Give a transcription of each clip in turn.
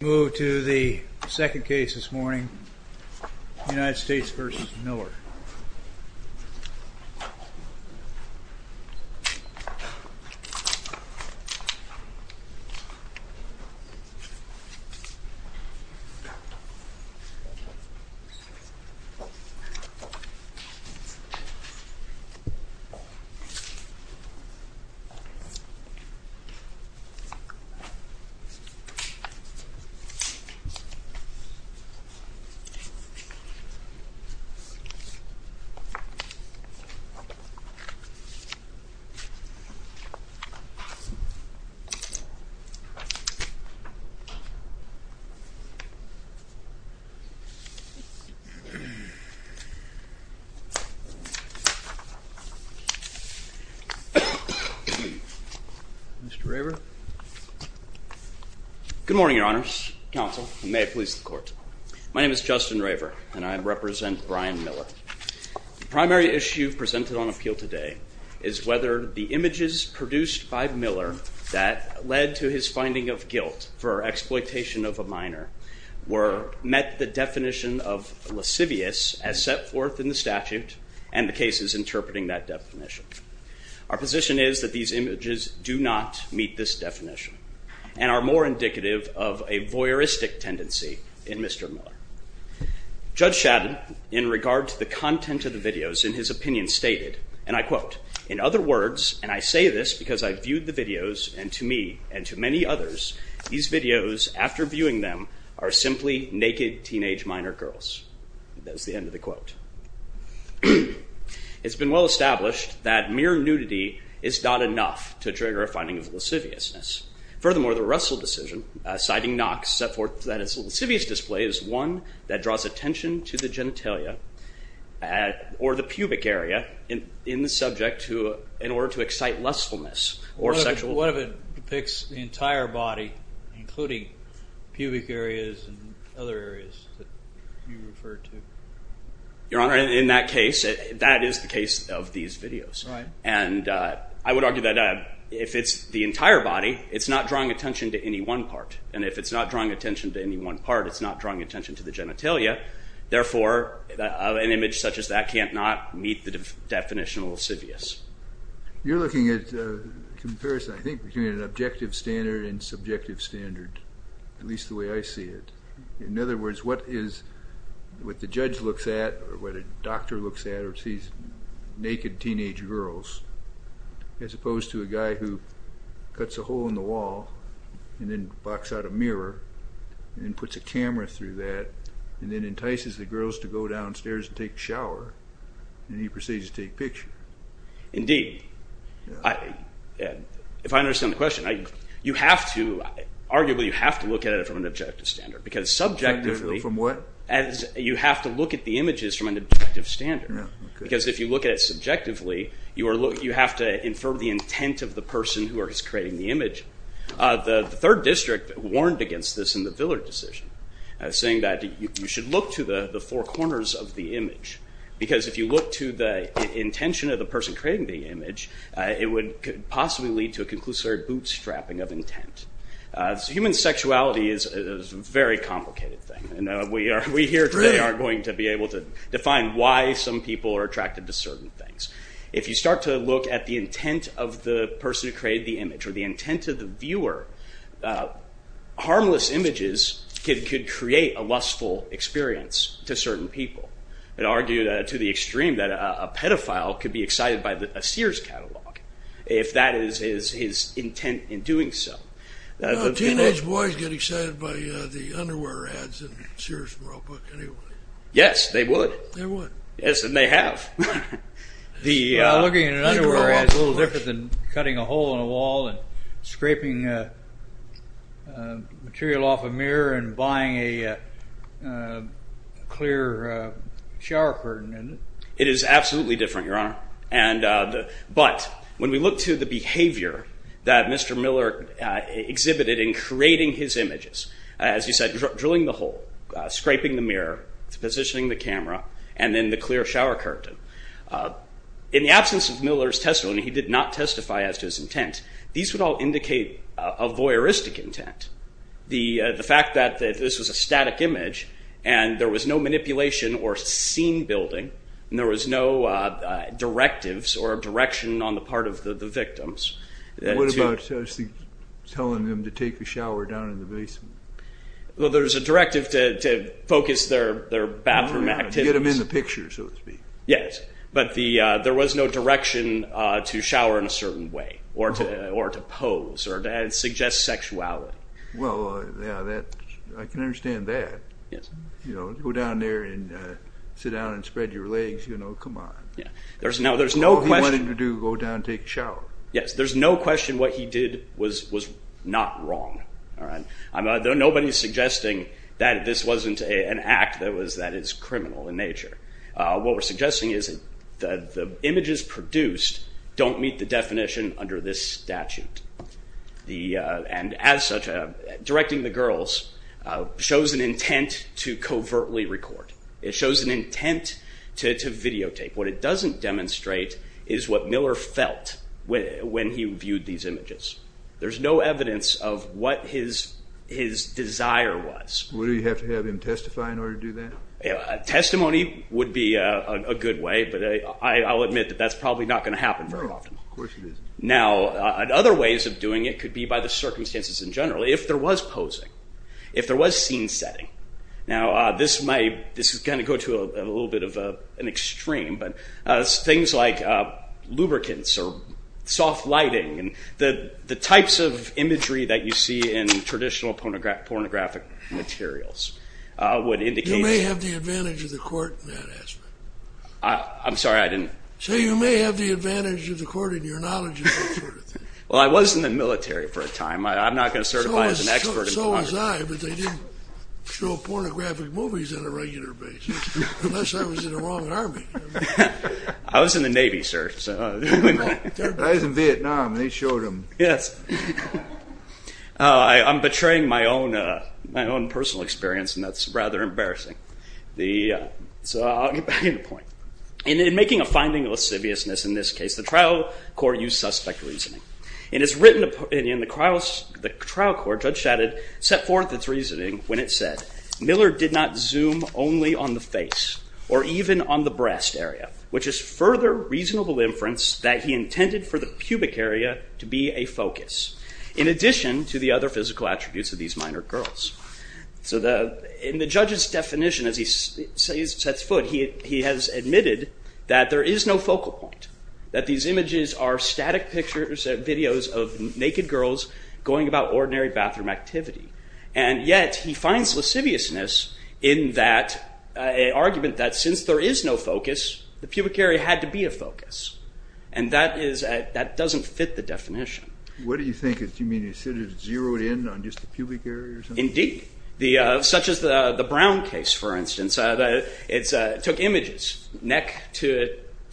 Move to the second case this morning, United States v. Miller. Afternoon, Your Honors. My name is Justin Raver, and I represent Brian Miller. The primary issue presented on appeal today is whether the images produced by Miller that led to his finding of guilt for exploitation of a minor met the definition of lascivious as set forth in the statute and the cases interpreting that definition. Our position is that these images do not meet this definition and are more indicative of a voyeuristic tendency in Mr. Miller. Judge Shaddon, in regard to the content of the videos in his opinion, stated, and I quote, in other words, and I say this because I viewed the videos and to me and to many others, these videos, after viewing them, are simply naked teenage minor girls. That is the end of the quote. It's been well established that mere nudity is not enough to trigger a finding of lasciviousness. Furthermore, the Russell decision, citing Knox, set forth that a lascivious display is one that draws attention to the genitalia or the pubic area in the subject in order to excite lustfulness or sexual... What if it depicts the entire body, including pubic areas and other areas that you refer to? Your Honor, in that case, that is the case of these videos. I would argue that if it's the entire body, it's not drawing attention to any one part. If it's not drawing attention to any one part, it's not drawing attention to the genitalia. Therefore, an image such as that can't not meet the definition of lascivious. You're looking at a comparison, I think, between an objective standard and subjective standard, at least the way I see it. In other words, what the judge looks at or what a doctor looks at or sees naked teenage girls, as opposed to a guy who cuts a hole in the wall and then boxes out a mirror and puts a camera through that and then entices the girls to go downstairs and take a shower and he proceeds to take a picture. Indeed. If I understand the question, you have to, arguably you have to look at it from an objective standard. From what? You have to look at the images from an objective standard. Because if you look at it subjectively, you have to infer the intent of the person who is creating the image. The third district warned against this in the Villard decision, saying that you should look to the four corners of the image. Because if you look to the intention of the person creating the image, it would possibly lead to a conclusory bootstrapping of intent. Human sexuality is a very complicated thing. We here today are going to be able to define why some people are attracted to certain things. If you start to look at the intent of the person who created the image or the intent of the viewer, harmless images could create a lustful experience to certain people. It argued to the extreme that a pedophile could be excited by a Sears catalog if that is his intent in doing so. Teenage boys get excited by the underwear ads in the Sears world book anyway. Yes, they would. They would. Yes, and they have. Looking at an underwear ad is a little different than cutting a hole in a wall and scraping material off a mirror and buying a clear shower curtain. It is absolutely different, Your Honor. But when we look to the behavior that Mr. Miller exhibited in creating his images, as you said, drilling the hole, scraping the mirror, positioning the camera, and then the clear shower curtain, in the absence of Miller's testimony, he did not testify as to his intent. These would all indicate a voyeuristic intent. The fact that this was a static image and there was no manipulation or scene building, there was no directives or direction on the part of the victims. What about telling them to take a shower down in the basement? There's a directive to focus their bathroom activities. Get them in the picture, so to speak. Yes, but there was no direction to shower in a certain way or to pose or to suggest sexuality. Well, I can understand that. Go down there and sit down and spread your legs, you know, come on. All he wanted to do was go down and take a shower. Yes, there's no question what he did was not wrong. Nobody's suggesting that this wasn't an act that is criminal in nature. What we're suggesting is that the images produced don't meet the definition under this statute. And as such, directing the girls shows an intent to covertly record. It shows an intent to videotape. What it doesn't demonstrate is what Miller felt when he viewed these images. There's no evidence of what his desire was. Would he have to have him testify in order to do that? Testimony would be a good way, but I'll admit that that's probably not going to happen very often. No, of course it isn't. Now, other ways of doing it could be by the circumstances in general, if there was posing, if there was scene setting. Now this is going to go to a little bit of an extreme, but things like lubricants or soft lighting and the types of imagery that you see in traditional pornographic materials would indicate... You may have the advantage of the court in that aspect. I'm sorry, I didn't... So you may have the advantage of the court in your knowledge of that sort of thing. Well, I was in the military for a time. I'm not going to certify as an expert in pornography. So was I, but they didn't show pornographic movies on a regular basis, unless I was in the wrong army. I was in the Navy, sir. I was in Vietnam, and they showed them. I'm betraying my own personal experience, and that's rather embarrassing. So I'll get back to the point. In making a finding of lasciviousness in this case, the trial court used suspect reasoning. In the trial court, Judge Shadid set forth its reasoning when it said, Miller did not zoom only on the face or even on the breast area, which is further reasonable inference that he intended for the pubic area to be a focus, in addition to the other physical attributes of these minor girls. So in the judge's definition, as he sets foot, he has admitted that there is no focal point, that these images are static videos of naked girls going about ordinary bathroom activity. And yet he finds lasciviousness in that argument that since there is no focus, the pubic area had to be a focus. And that doesn't fit the definition. What do you think? Do you mean he should have zeroed in on just the pubic area or something? Indeed. Such as the Brown case, for instance, that it took images, neck to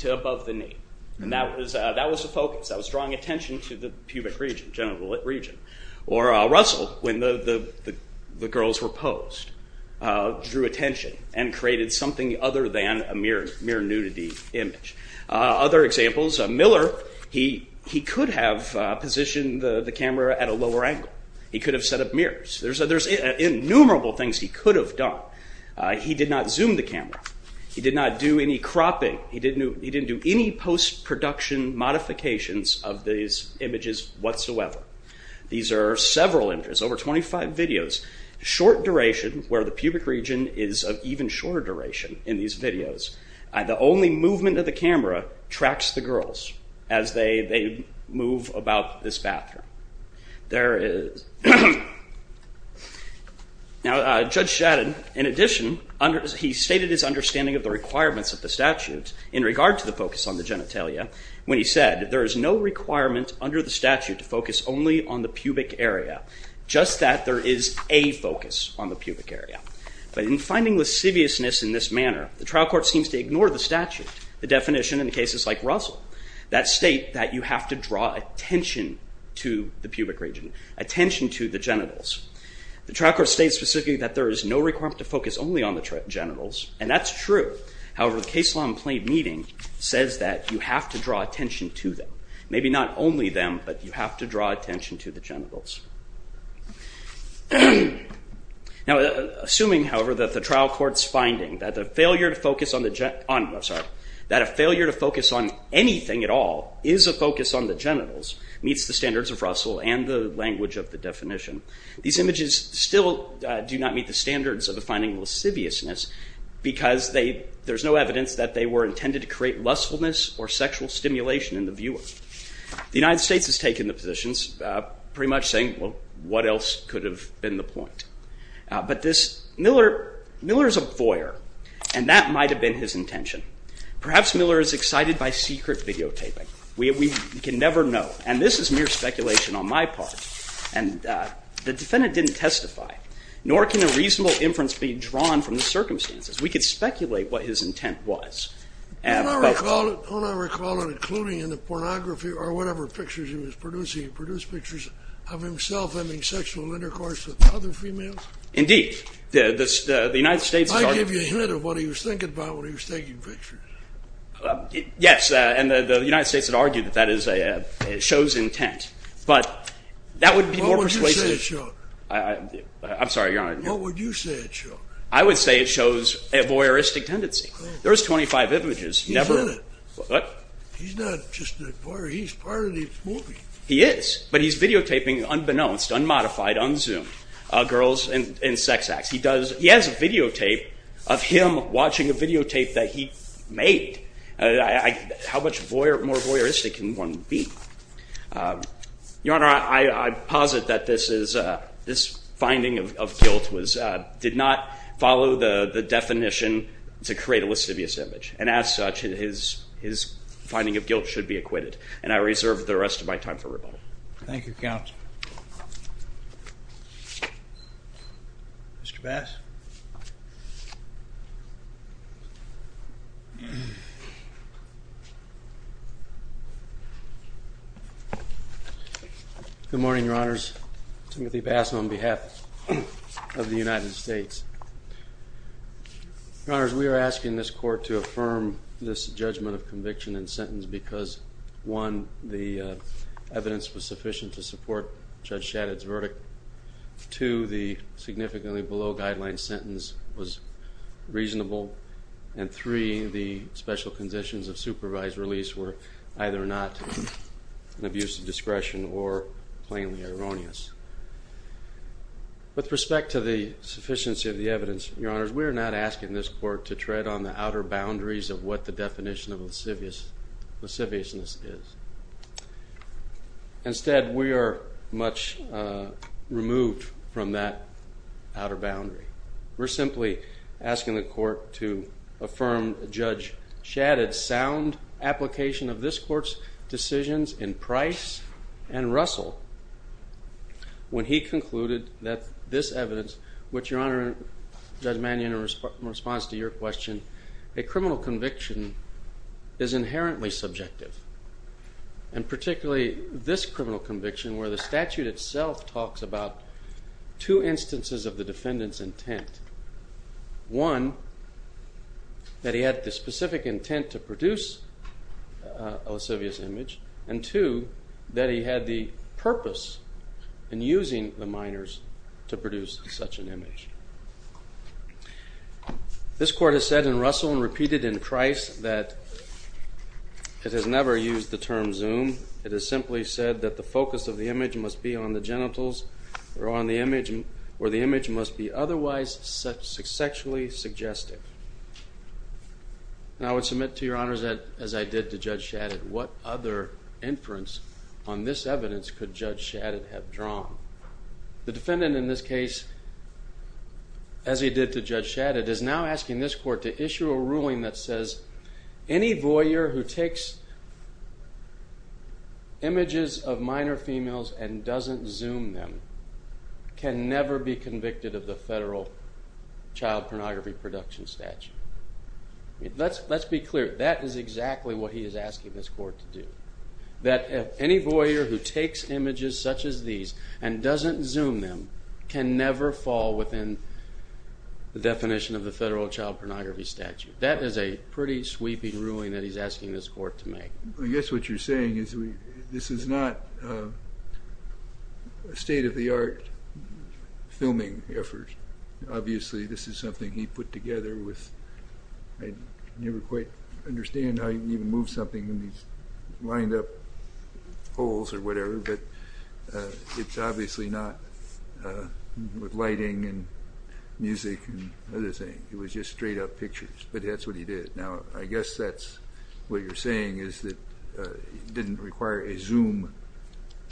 above the knee. And that was the focus, that was drawing attention to the pubic region, genital region. Or Russell, when the girls were posed, drew attention and created something other than a mere nudity image. Other examples, Miller, he could have positioned the camera at a lower angle. He could have set up mirrors. There's innumerable things he could have done. He did not zoom the camera. He did not do any cropping. He didn't do any post-production modifications of these images whatsoever. These are several images, over 25 videos, short duration where the pubic region is of even shorter duration in these videos. The only movement of the camera tracks the girls as they move about this bathroom. There is... Now, Judge Shaddon, in addition, he stated his understanding of the requirements of the statute in regard to the focus on the genitalia when he said, there is no requirement under the statute to focus only on the pubic area, just that there is a focus on the pubic area. But in finding lasciviousness in this manner, the trial court seems to ignore the statute, the definition in cases like Russell, that state that you have to draw attention to the pubic region, attention to the genitals. The trial court states specifically that there is no requirement to focus only on the genitals, and that's true. However, the case law in plain reading says that you have to draw attention to them. Maybe not only them, but you have to draw attention to the genitals. Now, assuming, however, that the trial court's finding that the failure to focus on the gen... I'm sorry, that a failure to focus on anything at all is a focus on the genitals, meets the language of the definition, these images still do not meet the standards of the finding lasciviousness because there's no evidence that they were intended to create lustfulness or sexual stimulation in the viewer. The United States has taken the positions, pretty much saying, well, what else could have been the point? But Miller is a voyeur, and that might have been his intention. Perhaps Miller is excited by secret videotaping. We can never know. And this is mere speculation on my part. And the defendant didn't testify, nor can a reasonable inference be drawn from the circumstances. We could speculate what his intent was. Don't I recall it, including in the pornography or whatever pictures he was producing, he produced pictures of himself having sexual intercourse with other females? Indeed. The United States... I give you a hint of what he was thinking about when he was taking pictures. Yes, and the United States had argued that that is a show's intent. But that would be more persuasive... What would you say it showed? I'm sorry, Your Honor. What would you say it showed? I would say it shows a voyeuristic tendency. There's 25 images. He's in it. What? He's not just a voyeur. He's part of the movie. He is. But he's videotaping unbeknownst, unmodified, unzoomed girls in sex acts. He has a videotape of him watching a videotape that he made. How much more voyeuristic can one be? Your Honor, I posit that this finding of guilt did not follow the definition to create a lascivious image. And as such, his finding of guilt should be acquitted. And I reserve the rest of my time for rebuttal. Thank you, Counsel. Mr. Bass? Good morning, Your Honors. Timothy Bass on behalf of the United States. Your Honors, we are asking this Court to affirm this judgment of conviction and sentence because, one, the evidence was sufficient to support Judge Shadid's verdict. Two, the significantly below-guideline sentence was reasonable. And three, the special conditions of supervised release were either not an abuse of discretion or plainly erroneous. With respect to the sufficiency of the evidence, Your Honors, we are not asking this Court to tread on the outer boundaries of what the definition of lasciviousness is. Instead, we are much removed from that outer boundary. We're simply asking the Court to affirm Judge Shadid's sound application of this Court's decisions in Price and Russell when he concluded that this evidence, which, Your Honor, Judge Shadid questioned, a criminal conviction is inherently subjective. And particularly this criminal conviction, where the statute itself talks about two instances of the defendant's intent, one, that he had the specific intent to produce a lascivious image, and two, that he had the purpose in using the minors to produce such an image. This Court has said in Russell and repeated in Price that it has never used the term zoom. It has simply said that the focus of the image must be on the genitals, or the image must be otherwise sexually suggestive. And I would submit to Your Honors, as I did to Judge Shadid, what other inference on this evidence could Judge Shadid have drawn? The defendant in this case, as he did to Judge Shadid, is now asking this Court to issue a ruling that says any voyeur who takes images of minor females and doesn't zoom them can never be convicted of the federal child pornography production statute. Let's be clear. That is exactly what he is asking this Court to do, that any voyeur who takes images such as these and doesn't zoom them can never fall within the definition of the federal child pornography statute. That is a pretty sweeping ruling that he is asking this Court to make. I guess what you're saying is this is not a state-of-the-art filming effort. Obviously, this is something he put together with, I never quite understand how you can move something in these lined-up holes or whatever, but it's obviously not with lighting and music and other things, it was just straight-up pictures, but that's what he did. Now, I guess that's what you're saying is that it didn't require a zoom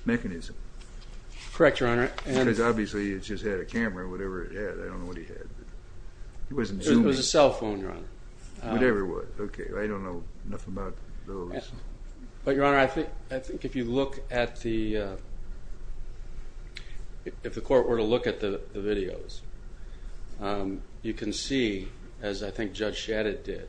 mechanism. Correct, Your Honor. Because, obviously, it just had a camera or whatever it had, I don't know what he had. It wasn't zoom. It was a cell phone, Your Honor. Whatever it was. Okay, I don't know enough about those. But, Your Honor, I think if you look at the, if the Court were to look at the videos, you can see, as I think Judge Shadid did,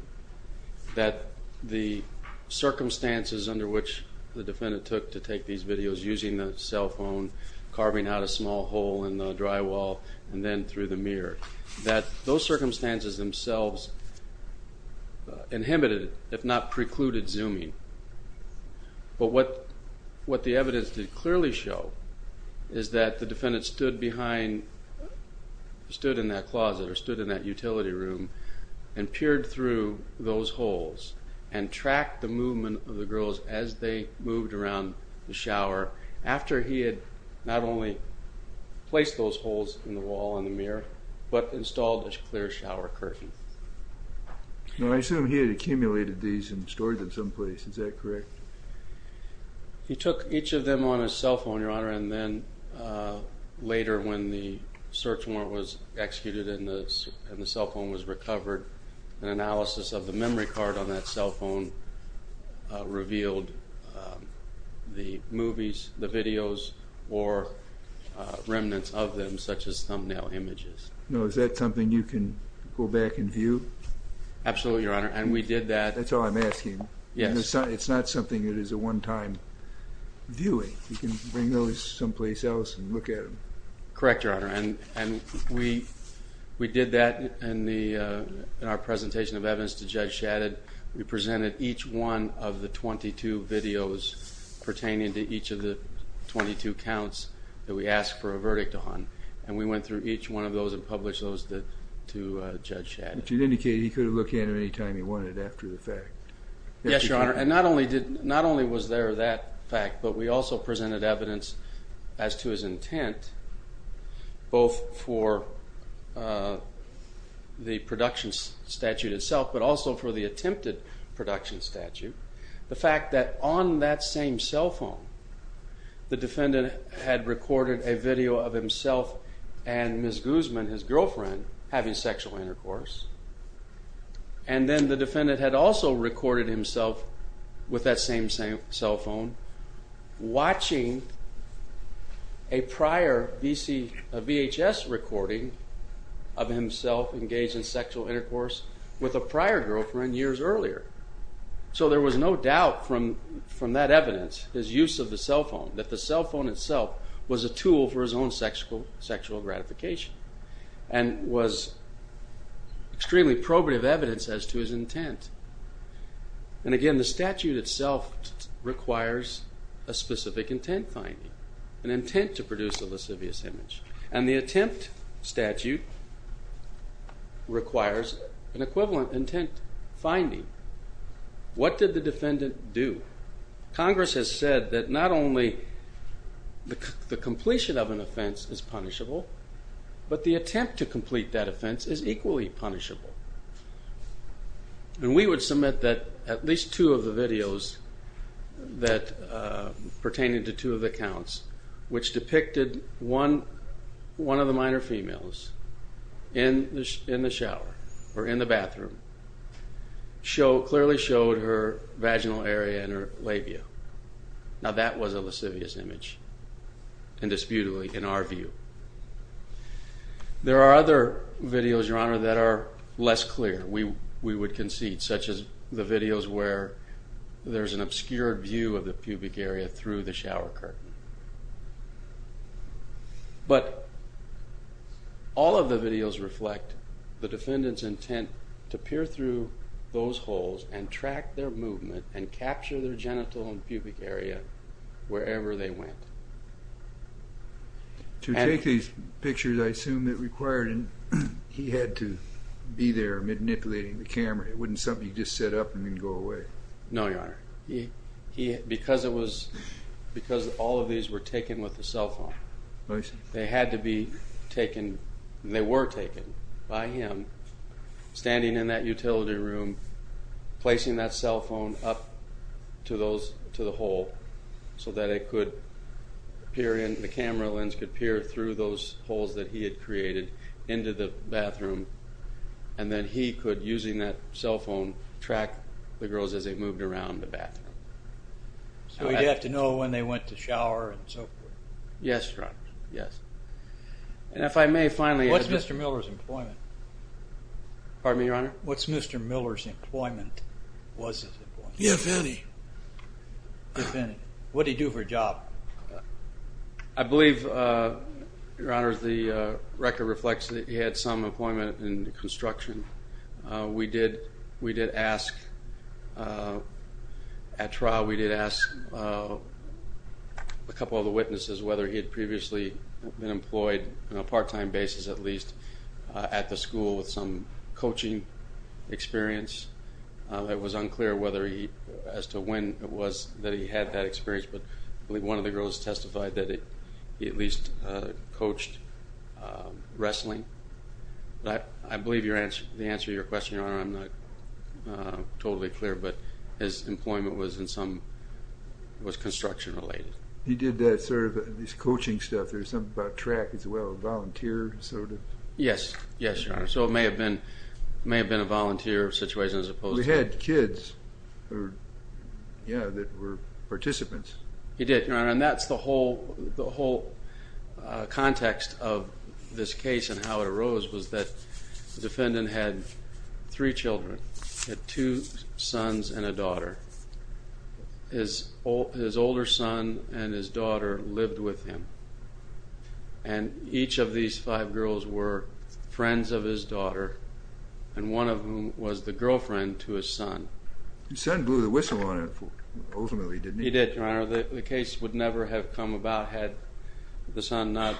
that the circumstances under which the defendant took to take these videos using the cell phone, carving out a small hole in the drywall, and then through the mirror, that those circumstances themselves inhibited, if not precluded, zooming. But what the evidence did clearly show is that the defendant stood behind, stood in that closet, or stood in that utility room, and peered through those holes and tracked the movement of the girls as they moved around the shower, after he had not only placed those on the drywall and the mirror, but installed a clear shower curtain. Now, I assume he had accumulated these and stored them someplace, is that correct? He took each of them on his cell phone, Your Honor, and then later, when the search warrant was executed and the cell phone was recovered, an analysis of the memory card on that cell No, is that something you can go back and view? Absolutely, Your Honor, and we did that. That's all I'm asking. Yes. It's not something that is a one-time viewing. You can bring those someplace else and look at them. Correct, Your Honor, and we did that in our presentation of evidence to Judge Shadid. We presented each one of the 22 videos pertaining to each of the 22 counts that we asked for and we went through each one of those and published those to Judge Shadid. But you indicated he could have looked at them any time he wanted after the fact. Yes, Your Honor, and not only was there that fact, but we also presented evidence as to his intent, both for the production statute itself, but also for the attempted production statute. The fact that on that same cell phone, the defendant had recorded a video of himself and Ms. Guzman, his girlfriend, having sexual intercourse, and then the defendant had also recorded himself with that same cell phone watching a prior VHS recording of himself engaged in sexual intercourse with a prior girlfriend years earlier. So there was no doubt from that evidence, his use of the cell phone, that the cell phone itself was a tool for his own sexual gratification and was extremely probative evidence as to his intent. And again, the statute itself requires a specific intent finding, an intent to produce a lascivious image, and the attempt statute requires an equivalent intent finding. What did the defendant do? Congress has said that not only the completion of an offense is punishable, but the attempt to complete that offense is equally punishable. And we would submit that at least two of the videos pertaining to two of the counts, which depicted one of the minor females in the shower or in the bathroom, clearly showed her vaginal area and her labia. Now that was a lascivious image, indisputably, in our view. There are other videos, Your Honor, that are less clear. We would concede, such as the videos where there's an obscured view of the pubic area through the shower curtain. But all of the videos reflect the defendant's intent to peer through those holes and track their movement and capture their genital and pubic area wherever they went. To take these pictures, I assume it required he had to be there manipulating the camera. It wouldn't be something you just set up and then go away. No, Your Honor. Because all of these were taken with a cell phone. I see. They had to be taken. They were taken by him standing in that utility room, placing that cell phone up to the hole so that the camera lens could peer through those holes that he had created into the bathroom, and then he could, using that cell phone, track the girls as they moved around the bathroom. So he'd have to know when they went to shower and so forth. Yes, Your Honor, yes. And if I may, finally, if it's... What's Mr. Miller's employment? Pardon me, Your Honor? What's Mr. Miller's employment? If any. If any. What did he do for a job? I believe, Your Honor, the record reflects that he had some employment in construction. We did ask at trial, we did ask a couple of the witnesses whether he had previously been employed on a part-time basis at least at the school with some coaching experience. It was unclear whether he, as to when it was that he had that experience, but I believe one of the girls testified that he at least coached wrestling. But I believe the answer to your question, Your Honor, I'm not totally clear, but his employment was construction-related. He did that sort of coaching stuff. There was something about track as well, volunteer sort of. Yes, yes, Your Honor. So it may have been a volunteer situation as opposed to... He had kids that were participants. He did, Your Honor, and that's the whole context of this case and how it arose, was that the defendant had three children, had two sons and a daughter. His older son and his daughter lived with him, and each of these five girls were friends of his daughter, and one of whom was the girlfriend to his son. His son blew the whistle on it, ultimately, didn't he? He did, Your Honor. The case would never have come about had the son not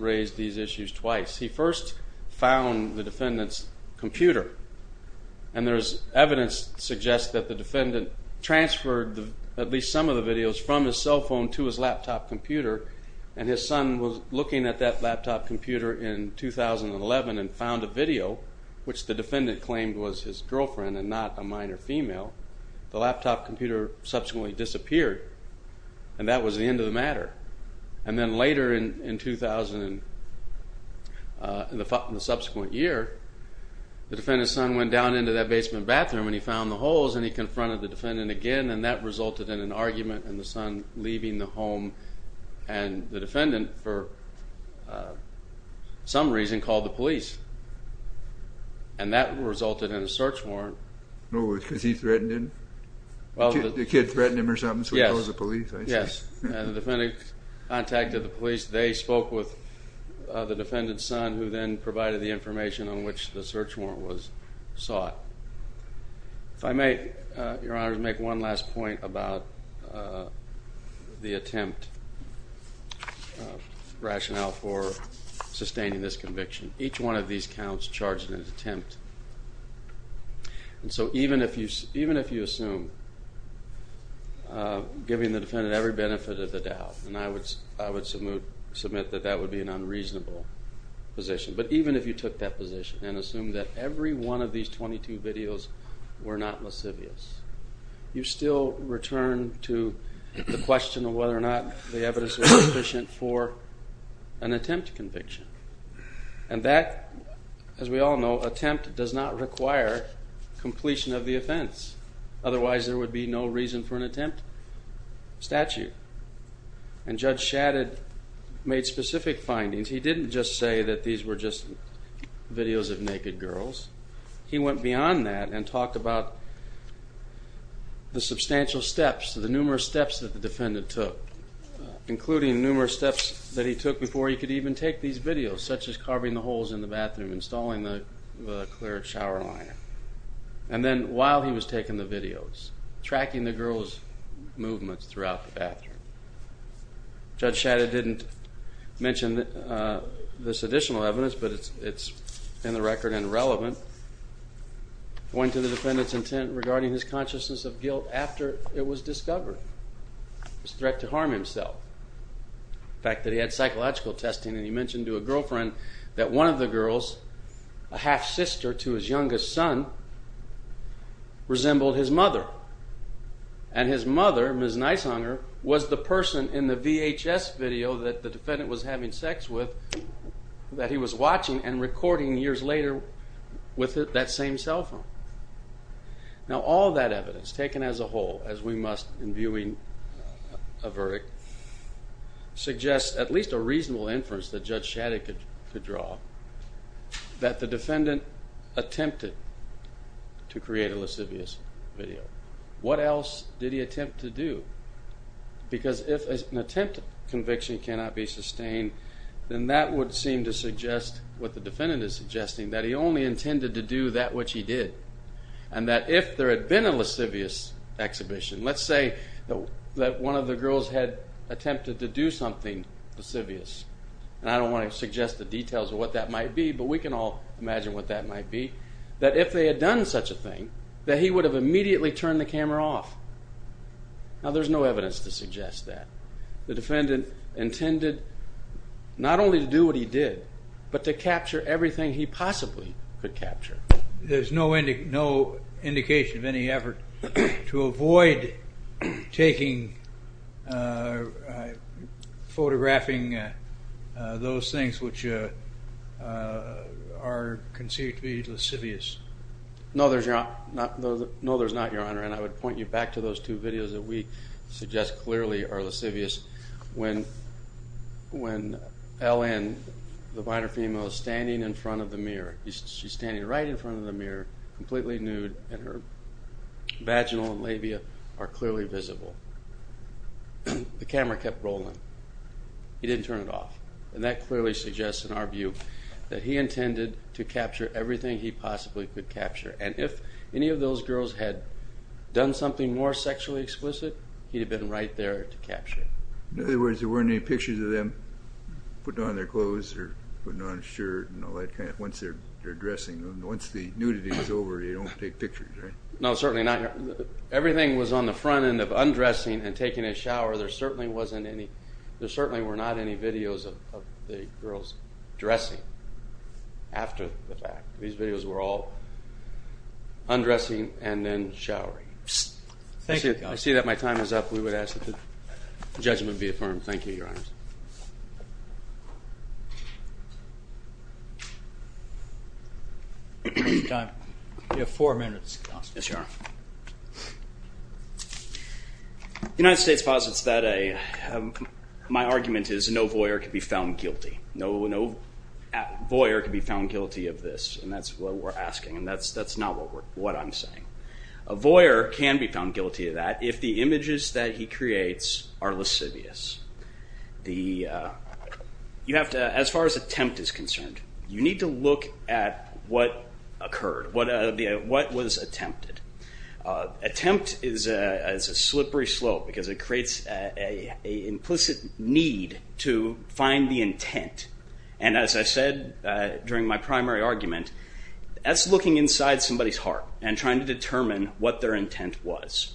raised these issues twice. He first found the defendant's computer, and there's evidence to suggest that the defendant transferred at least some of the videos from his cell phone to his laptop computer, and his son was looking at that laptop computer in 2011 and found a video, which the defendant claimed was his girlfriend and not a minor female. The laptop computer subsequently disappeared, and that was the end of the matter. And then later in 2000, in the subsequent year, the defendant's son went down into that basement bathroom, and he found the holes, and he confronted the defendant again, and that resulted in an argument and the son leaving the home, and the defendant, for some reason, called the police, and that resulted in a search warrant. Oh, because he threatened him? The kid threatened him or something, so he called the police, I see. Yes, and the defendant contacted the police. They spoke with the defendant's son, who then provided the information on which the search warrant was sought. If I may, Your Honor, make one last point about the attempt, rationale for sustaining this conviction. Each one of these counts charged in an attempt, and so even if you assume giving the defendant every benefit of the doubt, and I would submit that that would be an unreasonable position, but even if you took that position and assumed that every one of these 22 videos were not lascivious, you still return to the question of whether or not the evidence was sufficient for an attempt conviction. And that, as we all know, attempt does not require completion of the offense, otherwise there would be no reason for an attempt statute. And Judge Shadid made specific findings. He didn't just say that these were just videos of naked girls. He went beyond that and talked about the substantial steps, the numerous steps that the defendant took, including numerous steps that he took before he could even take these videos, such as carving the holes in the bathroom, installing the clear shower liner, and then while he was taking the videos, tracking the girls' movements throughout the bathroom. Judge Shadid didn't mention this additional evidence, but it's in the record and relevant. He pointed to the defendant's intent regarding his consciousness of guilt after it was discovered, his threat to harm himself, the fact that he had psychological testing, and he mentioned to a girlfriend that one of the girls, a half-sister to his youngest son, resembled his mother, and his mother, Ms. Nishunger, was the person in the VHS video that the defendant was having sex with that he was watching and recording years later with that same cell phone. Now, all that evidence, taken as a whole, as we must in viewing a verdict, suggests at least a reasonable inference that Judge Shadid could draw that the defendant attempted to create a lascivious video. What else did he attempt to do? Because if an attempt conviction cannot be sustained, then that would seem to suggest what the defendant is suggesting, that he only intended to do that which he did, and that if there had been a lascivious exhibition, let's say that one of the girls had attempted to do something lascivious, and I don't want to suggest the details of what that might be, but we can all imagine what that might be, that if they had done such a thing, that he would have immediately turned the camera off. Now, there's no evidence to suggest that. The defendant intended not only to do what he did, but to capture everything he possibly could capture. There's no indication of any effort to avoid taking, photographing those things which are considered to be lascivious. No, there's not, Your Honor, and I would point you back to those two videos that we suggest clearly are lascivious. When Ellen, the minor female, is standing in front of the mirror, she's standing right in front of the mirror, completely nude, and her vaginal and labia are clearly visible. The camera kept rolling. He didn't turn it off, and that clearly suggests, in our view, that he intended to capture everything he possibly could capture, and if any of those girls had done something more sexually explicit, he'd have been right there to capture it. In other words, there weren't any pictures of them putting on their clothes or putting on a shirt and all that kind of, once they're dressing, once the nudity is over, you don't take pictures, right? No, certainly not. Everything was on the front end of undressing and taking a shower. There certainly were not any videos of the girls dressing after the fact. These videos were all undressing and then showering. I see that my time is up. We would ask that the judgment be affirmed. Thank you, Your Honors. You have four minutes. The United States posits that my argument is no voyeur can be found guilty. No voyeur can be found guilty of this, and that's what we're asking, and that's not what I'm saying. A voyeur can be found guilty of that if the images that he creates are lascivious. As far as attempt is concerned, you need to look at what occurred, what was attempted. Attempt is a slippery slope because it creates an implicit need to find the intent, and as I said during my primary argument, that's looking inside somebody's heart and trying to determine what their intent was.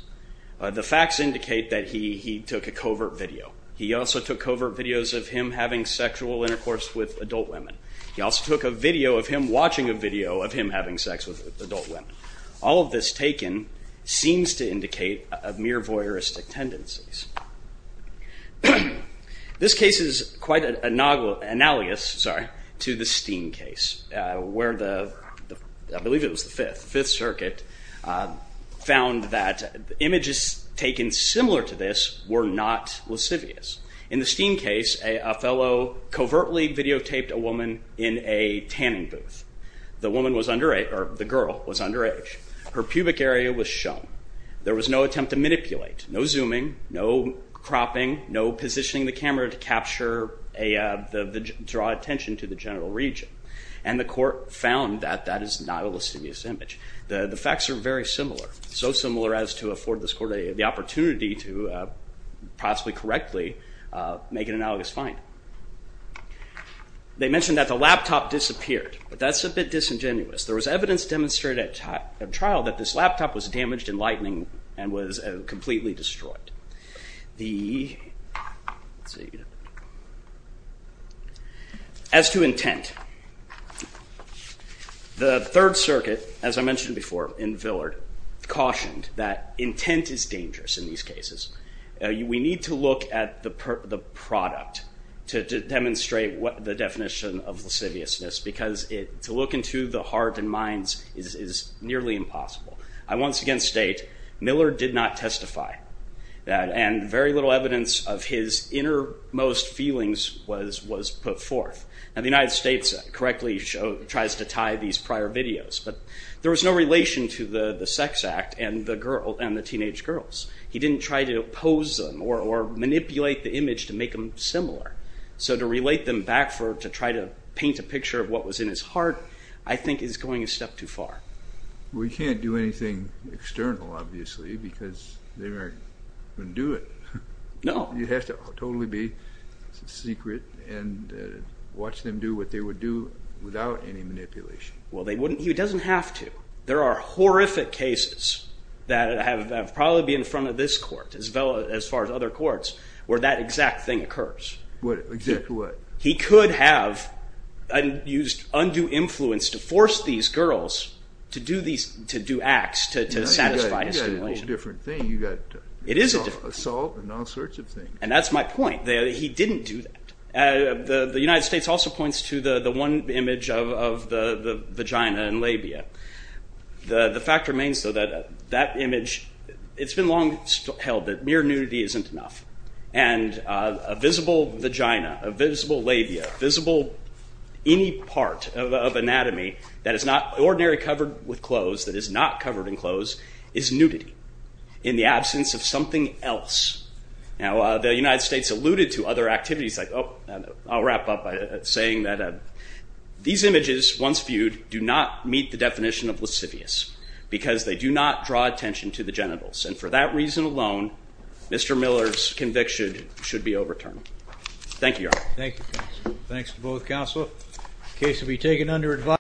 The facts indicate that he took a covert video. He also took covert videos of him having sexual intercourse with adult women. He also took a video of him watching a video of him having sex with adult women. All of this taken seems to indicate mere voyeuristic tendencies. This case is quite analogous to the Steen case, where I believe it was the Fifth Circuit, found that images taken similar to this were not lascivious. In the Steen case, a fellow covertly videotaped a woman in a tanning booth. The girl was underage. Her pubic area was shown. There was no attempt to manipulate, no zooming, no cropping, no positioning the camera to draw attention to the genital region, and the court found that that is not a lascivious image. The facts are very similar, so similar as to afford this court the opportunity to possibly correctly make an analogous find. They mentioned that the laptop disappeared, but that's a bit disingenuous. There was evidence demonstrated at trial that this laptop was damaged in lightning and was completely destroyed. As to intent, the Third Circuit, as I mentioned before in Villard, cautioned that intent is dangerous in these cases. We need to look at the product to demonstrate the definition of lasciviousness, because to look into the heart and mind is nearly impossible. I once again state, Miller did not testify, and very little evidence of his innermost feelings was put forth. The United States correctly tries to tie these prior videos, but there was no relation to the sex act and the teenage girls. He didn't try to pose them or manipulate the image to make them similar. So to relate them back to try to paint a picture of what was in his heart, I think is going a step too far. We can't do anything external, obviously, because they wouldn't do it. No. It has to totally be secret and watch them do what they would do without any manipulation. Well, he doesn't have to. There are horrific cases that have probably been in front of this court, as far as other courts, where that exact thing occurs. Exactly what? He could have used undue influence to force these girls to do acts to satisfy his stimulation. It's a different thing. You've got assault and all sorts of things. And that's my point. He didn't do that. The United States also points to the one image of the vagina and labia. The fact remains, though, that that image, it's been long held that mere nudity isn't enough. And a visible vagina, a visible labia, visible any part of anatomy that is not ordinarily covered with clothes, that is not covered in clothes, is nudity in the absence of something else. The United States alluded to other activities. I'll wrap up by saying that these images, once viewed, do not meet the definition of lascivious because they do not draw attention to the genitals. And for that reason alone, Mr. Miller's conviction should be overturned. Thank you, Your Honor. Thank you, counsel. Thanks to both counsel. The case will be taken under advisory.